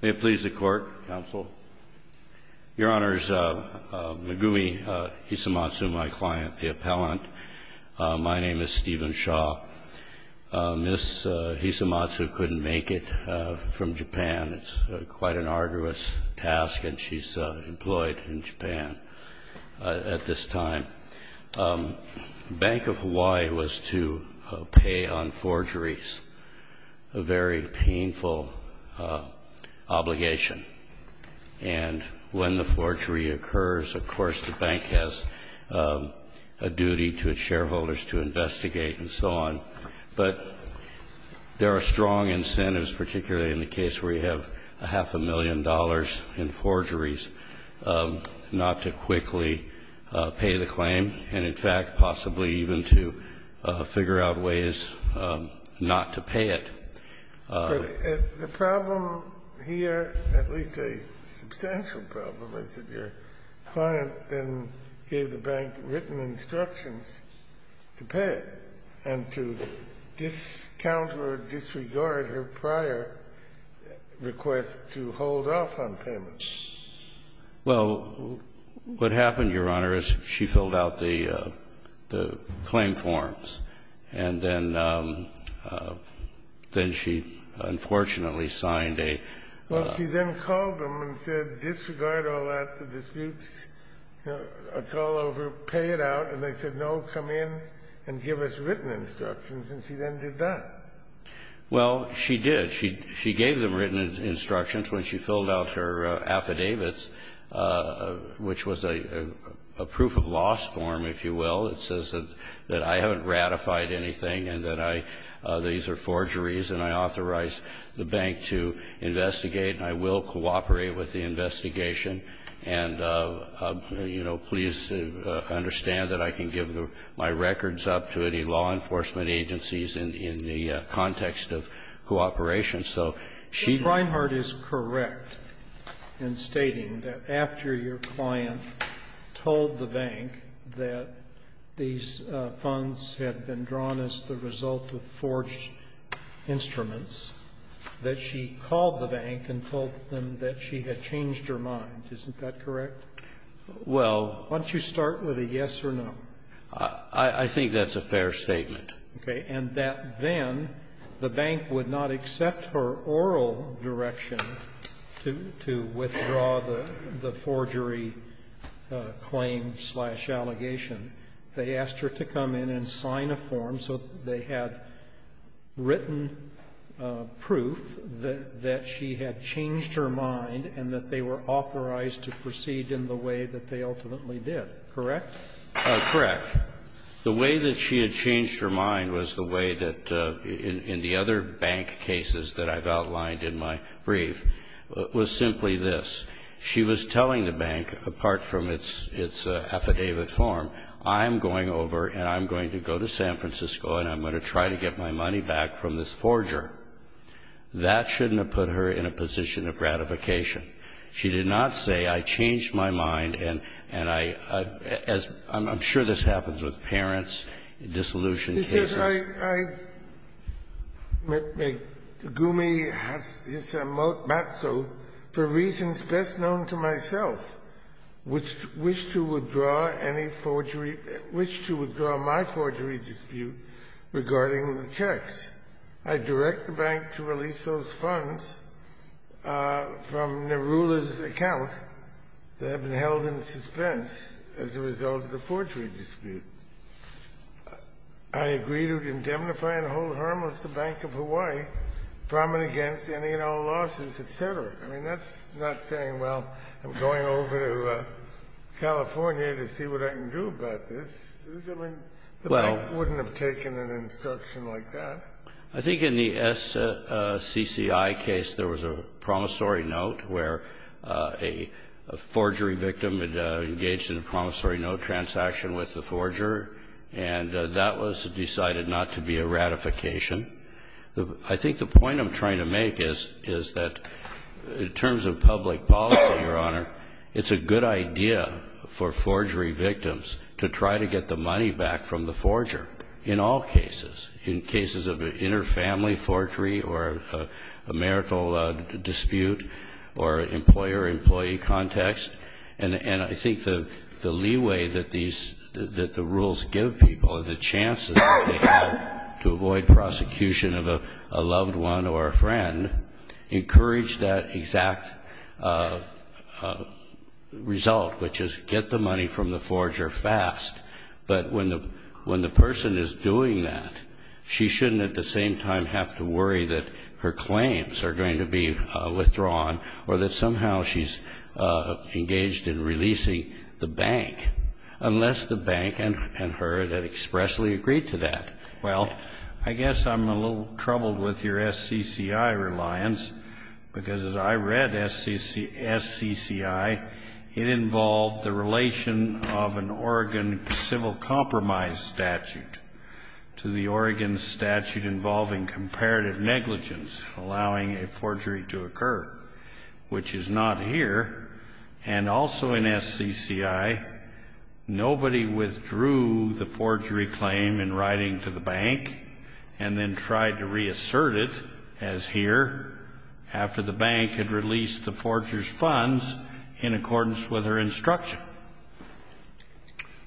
May it please the Court. Counsel. Your Honors, Megumi Hisamatsu, my client, the appellant, my name is Stephen Shaw. Ms. Hisamatsu couldn't make it from Japan. It's quite an arduous task, and she's employed in Japan at this time. The Bank of Hawaii was to pay on forgeries, a very painful obligation. And when the forgery occurs, of course, the bank has a duty to its shareholders to investigate and so on. But there are strong incentives, particularly in the case where you have a half a million dollars in forgeries, not to quickly pay the claim, and in fact possibly even to figure out ways not to pay it. The problem here, at least a substantial problem, is that your client then gave the bank written instructions to pay it and to discount or disregard her prior request to hold off on payments. Well, what happened, Your Honor, is she filled out the claim forms, and then she unfortunately signed a... Well, she then called them and said, disregard all that, the disputes, it's all over, pay it out. And they said, no, come in and give us written instructions, and she then did that. Well, she did. She gave them written instructions when she filled out her affidavits, which was a proof of loss form, if you will. It says that I haven't ratified anything and that I these are forgeries and I authorized the bank to investigate and I will cooperate with the investigation. And, you know, please understand that I can give my records up to any law enforcement agencies in the context of cooperation, so she... Breyer's is correct in stating that after your client told the bank that these funds had been drawn as the result of forged instruments, that she called the bank and told them that she had changed her mind. Isn't that correct? Well... Why don't you start with a yes or no? I think that's a fair statement. Okay. And that then the bank would not accept her oral direction to withdraw the forgery claim-slash-allegation. They asked her to come in and sign a form so that they had written proof that she had changed her mind and that they were authorized to proceed in the way that they ultimately did, correct? Correct. The way that she had changed her mind was the way that in the other bank cases that I've outlined in my brief was simply this. She was telling the bank, apart from its affidavit form, I'm going over and I'm going to go to San Francisco and I'm going to try to get my money back from this forger. That shouldn't have put her in a position of gratification. She did not say, I changed my mind and I'm sure this happens with parents, dissolution cases. I agree to withdraw my forgery dispute regarding the checks. I direct the bank to release those funds from Nerula's account that had been held in suspense as a result of the forgery dispute. I agree to indemnify and hold harmless the Bank of Hawaii from and against any and all losses, et cetera. I mean, that's not saying, well, I'm going over to California to see what I can do about this. I mean, the bank wouldn't have taken an instruction like that. I think in the SCCI case there was a promissory note where a forgery victim had engaged in a promissory note transaction with the forger and that was decided not to be a ratification. I think the point I'm trying to make is that in terms of public policy, Your Honor, it's a good idea for forgery victims to try to get the money back from the forger in all cases, in cases of inter-family forgery or a marital dispute or employer-employee context. And I think the leeway that these, that the rules give people and the chances they have to avoid prosecution of a loved one or a friend encourage that exact result, which is get the money from the forger fast. But when the person is doing that, she shouldn't at the same time have to worry that her claims are going to be withdrawn or that somehow she's engaged in releasing the bank, unless the bank and her had expressly agreed to that. Well, I guess I'm a little troubled with your SCCI reliance, because as I read SCCI, it involved the relation of an Oregon civil compromise statute to the Oregon statute involving comparative negligence, allowing a forgery to occur, which is not here. And also in SCCI, nobody withdrew the forgery claim in writing to the bank and then tried to reassert it, as here, after the bank had released the forger's funds in accordance with her instruction.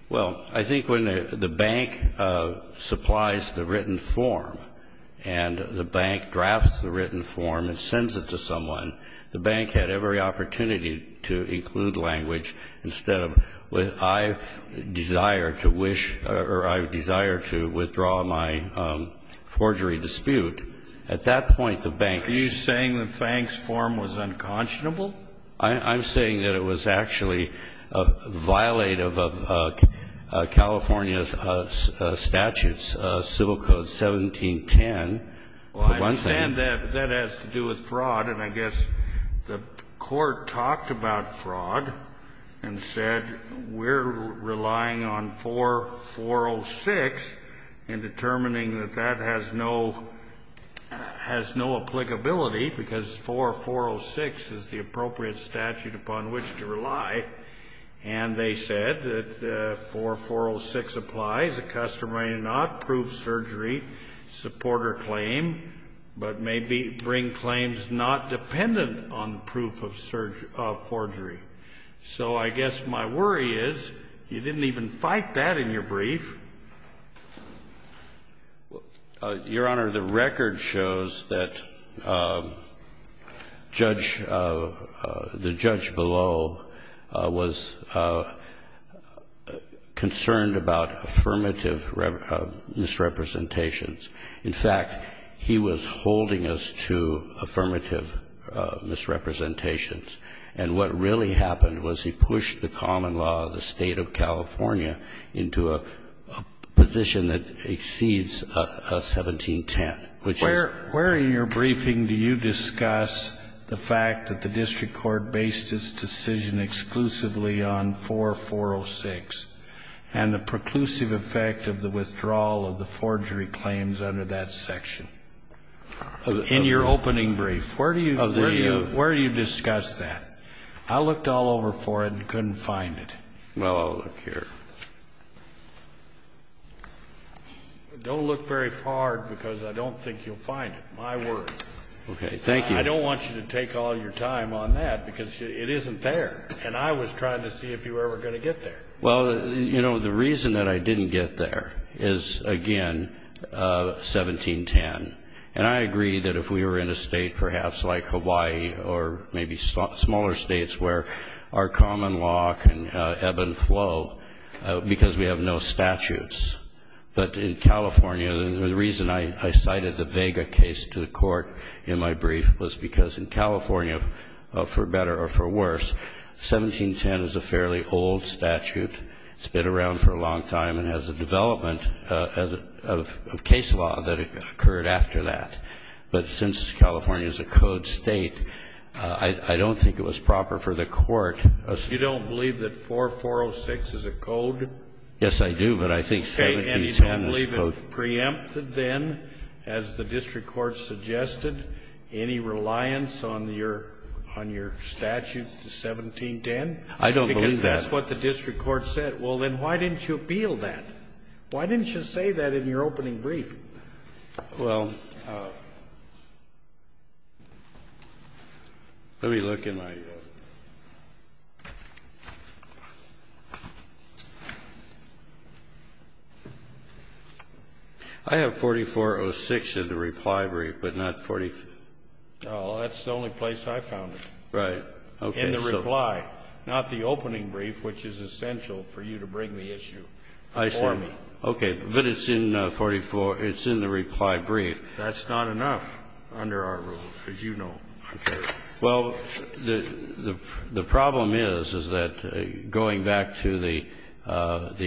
Well, I think when the bank supplies the written form and the bank drafts the written form and sends it to someone, the bank had every opportunity to include language instead of, I desire to wish or I desire to withdraw my forgery dispute. At that point, the bank should be able to withdraw the forgery. Are you saying the bank's form was unconscionable? I'm saying that it was actually violative of California's statutes, Civil Code 1710. Well, I understand that, but that has to do with fraud. And I guess the Court talked about fraud and said we're relying on 4406 in determining that that has no applicability, because 4406 is the appropriate statute upon which to rely. And they said that 4406 applies, a customary not-proof surgery, supporter claim, but may bring claims not dependent on proof of forgery. So I guess my worry is you didn't even fight that in your brief. Your Honor, the record shows that Judge Below was concerned about affirmative misrepresentations. In fact, he was holding us to affirmative misrepresentations. And what really happened was he pushed the common law of the State of California into a position that exceeds 1710, which is. Where in your briefing do you discuss the fact that the district court based its decision exclusively on 4406, and the preclusive effect of the withdrawal of the forgery claims under that section? In your opening brief. Where do you discuss that? I looked all over for it and couldn't find it. Well, I'll look here. Don't look very hard, because I don't think you'll find it. My word. Okay. Thank you. I don't want you to take all your time on that, because it isn't there. And I was trying to see if you were ever going to get there. Well, you know, the reason that I didn't get there is, again, 1710. And I agree that if we were in a state perhaps like Hawaii or maybe smaller states where our common law can ebb and flow because we have no statutes. But in California, the reason I cited the Vega case to the court in my brief was because in California, for better or for worse, 1710 is a fairly old statute. It's been around for a long time and has a development of case law that occurred after that. But since California is a code state, I don't think it was proper for the court. You don't believe that 4406 is a code? Yes, I do, but I think 1710 is a code. And you don't believe it preempted then, as the district court suggested, any reliance on your statute, 1710? I don't believe that. Because that's what the district court said. Well, then why didn't you appeal that? Why didn't you say that in your opening brief? Well, let me look in my ---- I have 4406 in the reply brief, but not 44 ---- Oh, that's the only place I found it. Right. In the reply, not the opening brief, which is essential for you to bring the issue before me. I see. Okay. But it's in 44 ---- it's in the reply brief. That's not enough under our rules, as you know. Okay. Well, the problem is, is that going back to the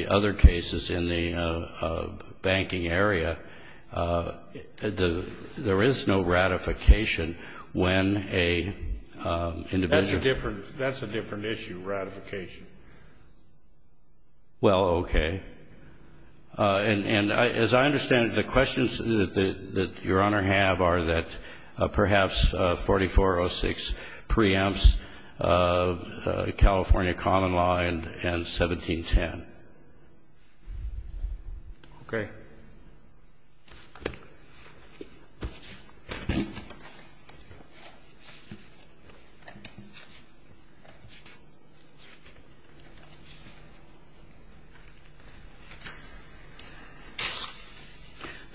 other cases in the banking area, there is no ratification when an individual ---- That's a different issue, ratification. Well, okay. And as I understand it, the questions that Your Honor have are that perhaps 4406 preempts California common law and 1710. Okay.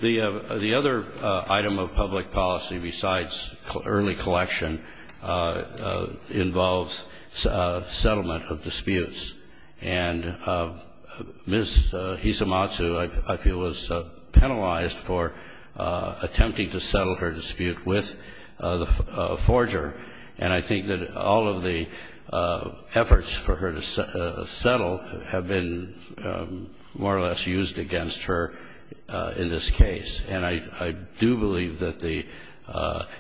The other item of public policy, besides early collection, involves settlement of disputes. And Ms. Hisamatsu, I feel, was the one who brought up the issue of settlement of disputes. And I think that she was penalized for attempting to settle her dispute with the forger, and I think that all of the efforts for her to settle have been more or less used against her in this case. And I do believe that the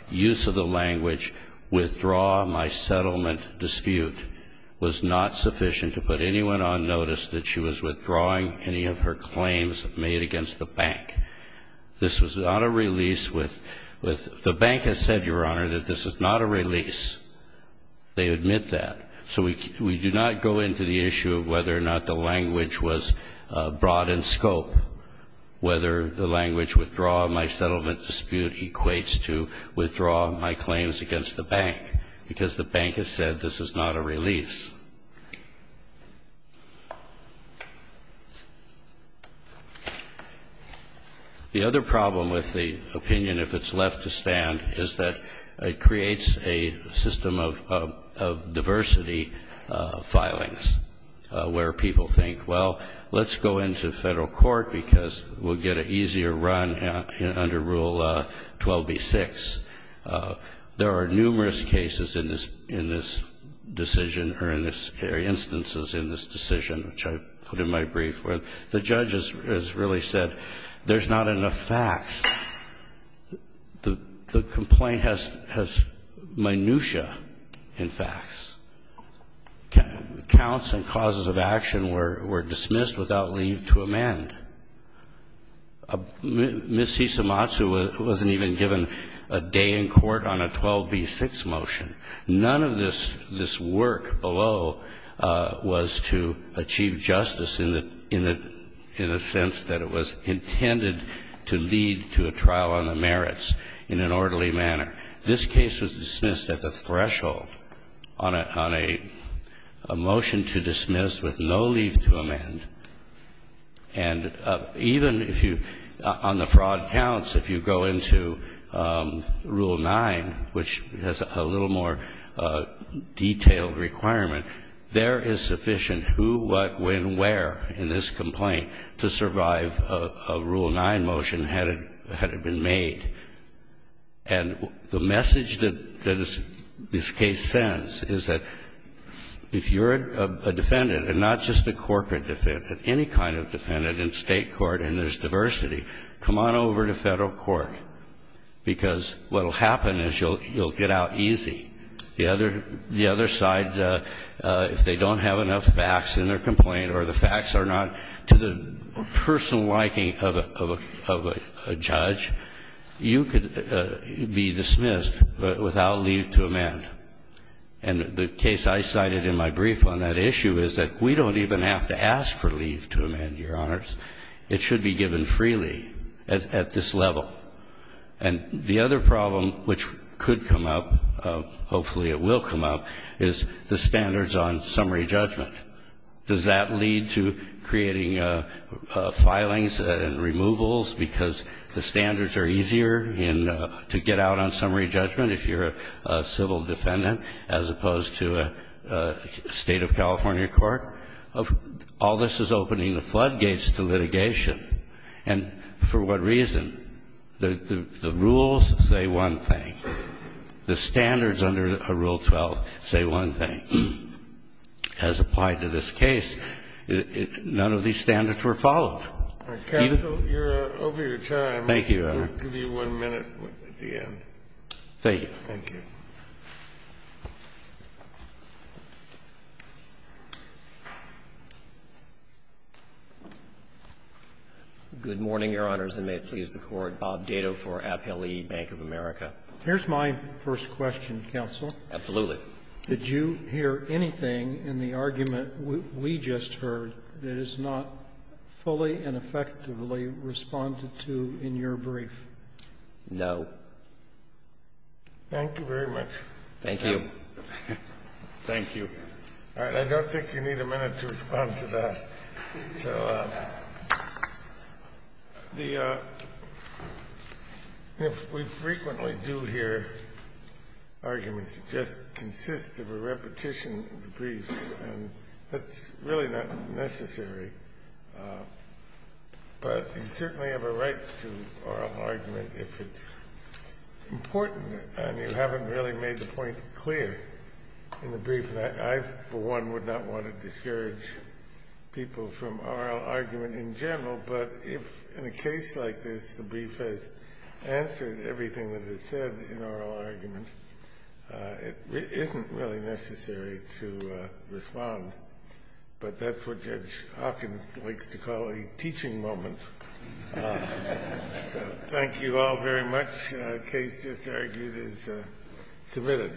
use of the language, withdraw my settlement dispute, was not sufficient to put anyone on notice that she was withdrawing any of her claims made against the bank. This was not a release with ---- The bank has said, Your Honor, that this is not a release. They admit that. So we do not go into the issue of whether or not the language was broad in scope, whether the language withdraw my settlement dispute equates to withdraw my claims against the bank, because the bank has said this is not a release. The other problem with the opinion, if it's left to stand, is that it creates a system of diversity of filings, where people think, Well, let's go into federal court because we'll get an easier run under Rule 12b-6. There are numerous cases in this decision or instances in this decision, which I put in my brief, where the judge has really said there's not enough facts. The complaint has minutia in facts. Counts and causes of action were dismissed without leave to amend. Ms. Isamatsu wasn't even given a day in court on a 12b-6 motion. None of this work below was to achieve justice in the sense that it was intended to lead to a trial on the merits in an orderly manner. This case was dismissed at the threshold on a motion to dismiss with no leave to amend. And even if you, on the fraud counts, if you go into Rule 9, which has a little more detailed requirement, there is sufficient who, what, when, where in this complaint to survive a Rule 9 motion had it been made. And the message that this case sends is that if you're a defendant, and not just a corporate defendant, any kind of defendant in state court, and there's diversity, come on over to federal court. Because what will happen is you'll get out easy. The other side, if they don't have enough facts in their complaint or the facts are not to the personal liking of a judge, you could be dismissed without leave to amend. And the case I cited in my brief on that issue is that we don't even have to ask for leave to amend, Your Honors. It should be given freely at this level. And the other problem which could come up, hopefully it will come up, is the standards on summary judgment. Does that lead to creating filings and removals because the standards are easier to get out on summary judgment if you're a civil defendant as opposed to a State of California court? All this is opening the floodgates to litigation. And for what reason? The rules say one thing. The standards under Rule 12 say one thing. As applied to this case, none of these standards were followed. Kennedy, you're over your time. Thank you, Your Honor. We'll give you one minute at the end. Thank you. Thank you. Good morning, Your Honors, and may it please the Court. Bob Dado for Appellee Bank of America. Here's my first question, Counsel. Absolutely. Did you hear anything in the argument we just heard that is not fully and effectively responded to in your brief? No. Thank you very much. Thank you. Thank you. All right. I don't think you need a minute to respond to that. So if we frequently do hear arguments that just consist of a repetition of the briefs, that's really not necessary. But you certainly have a right to oral argument if it's important and you haven't really made the point clear in the brief. I, for one, would not want to discourage people from oral argument in general, but if in a case like this the brief has answered everything that is said in oral argument, it isn't really necessary to respond. But that's what Judge Hawkins likes to call a teaching moment. So thank you all very much. The case just argued is submitted.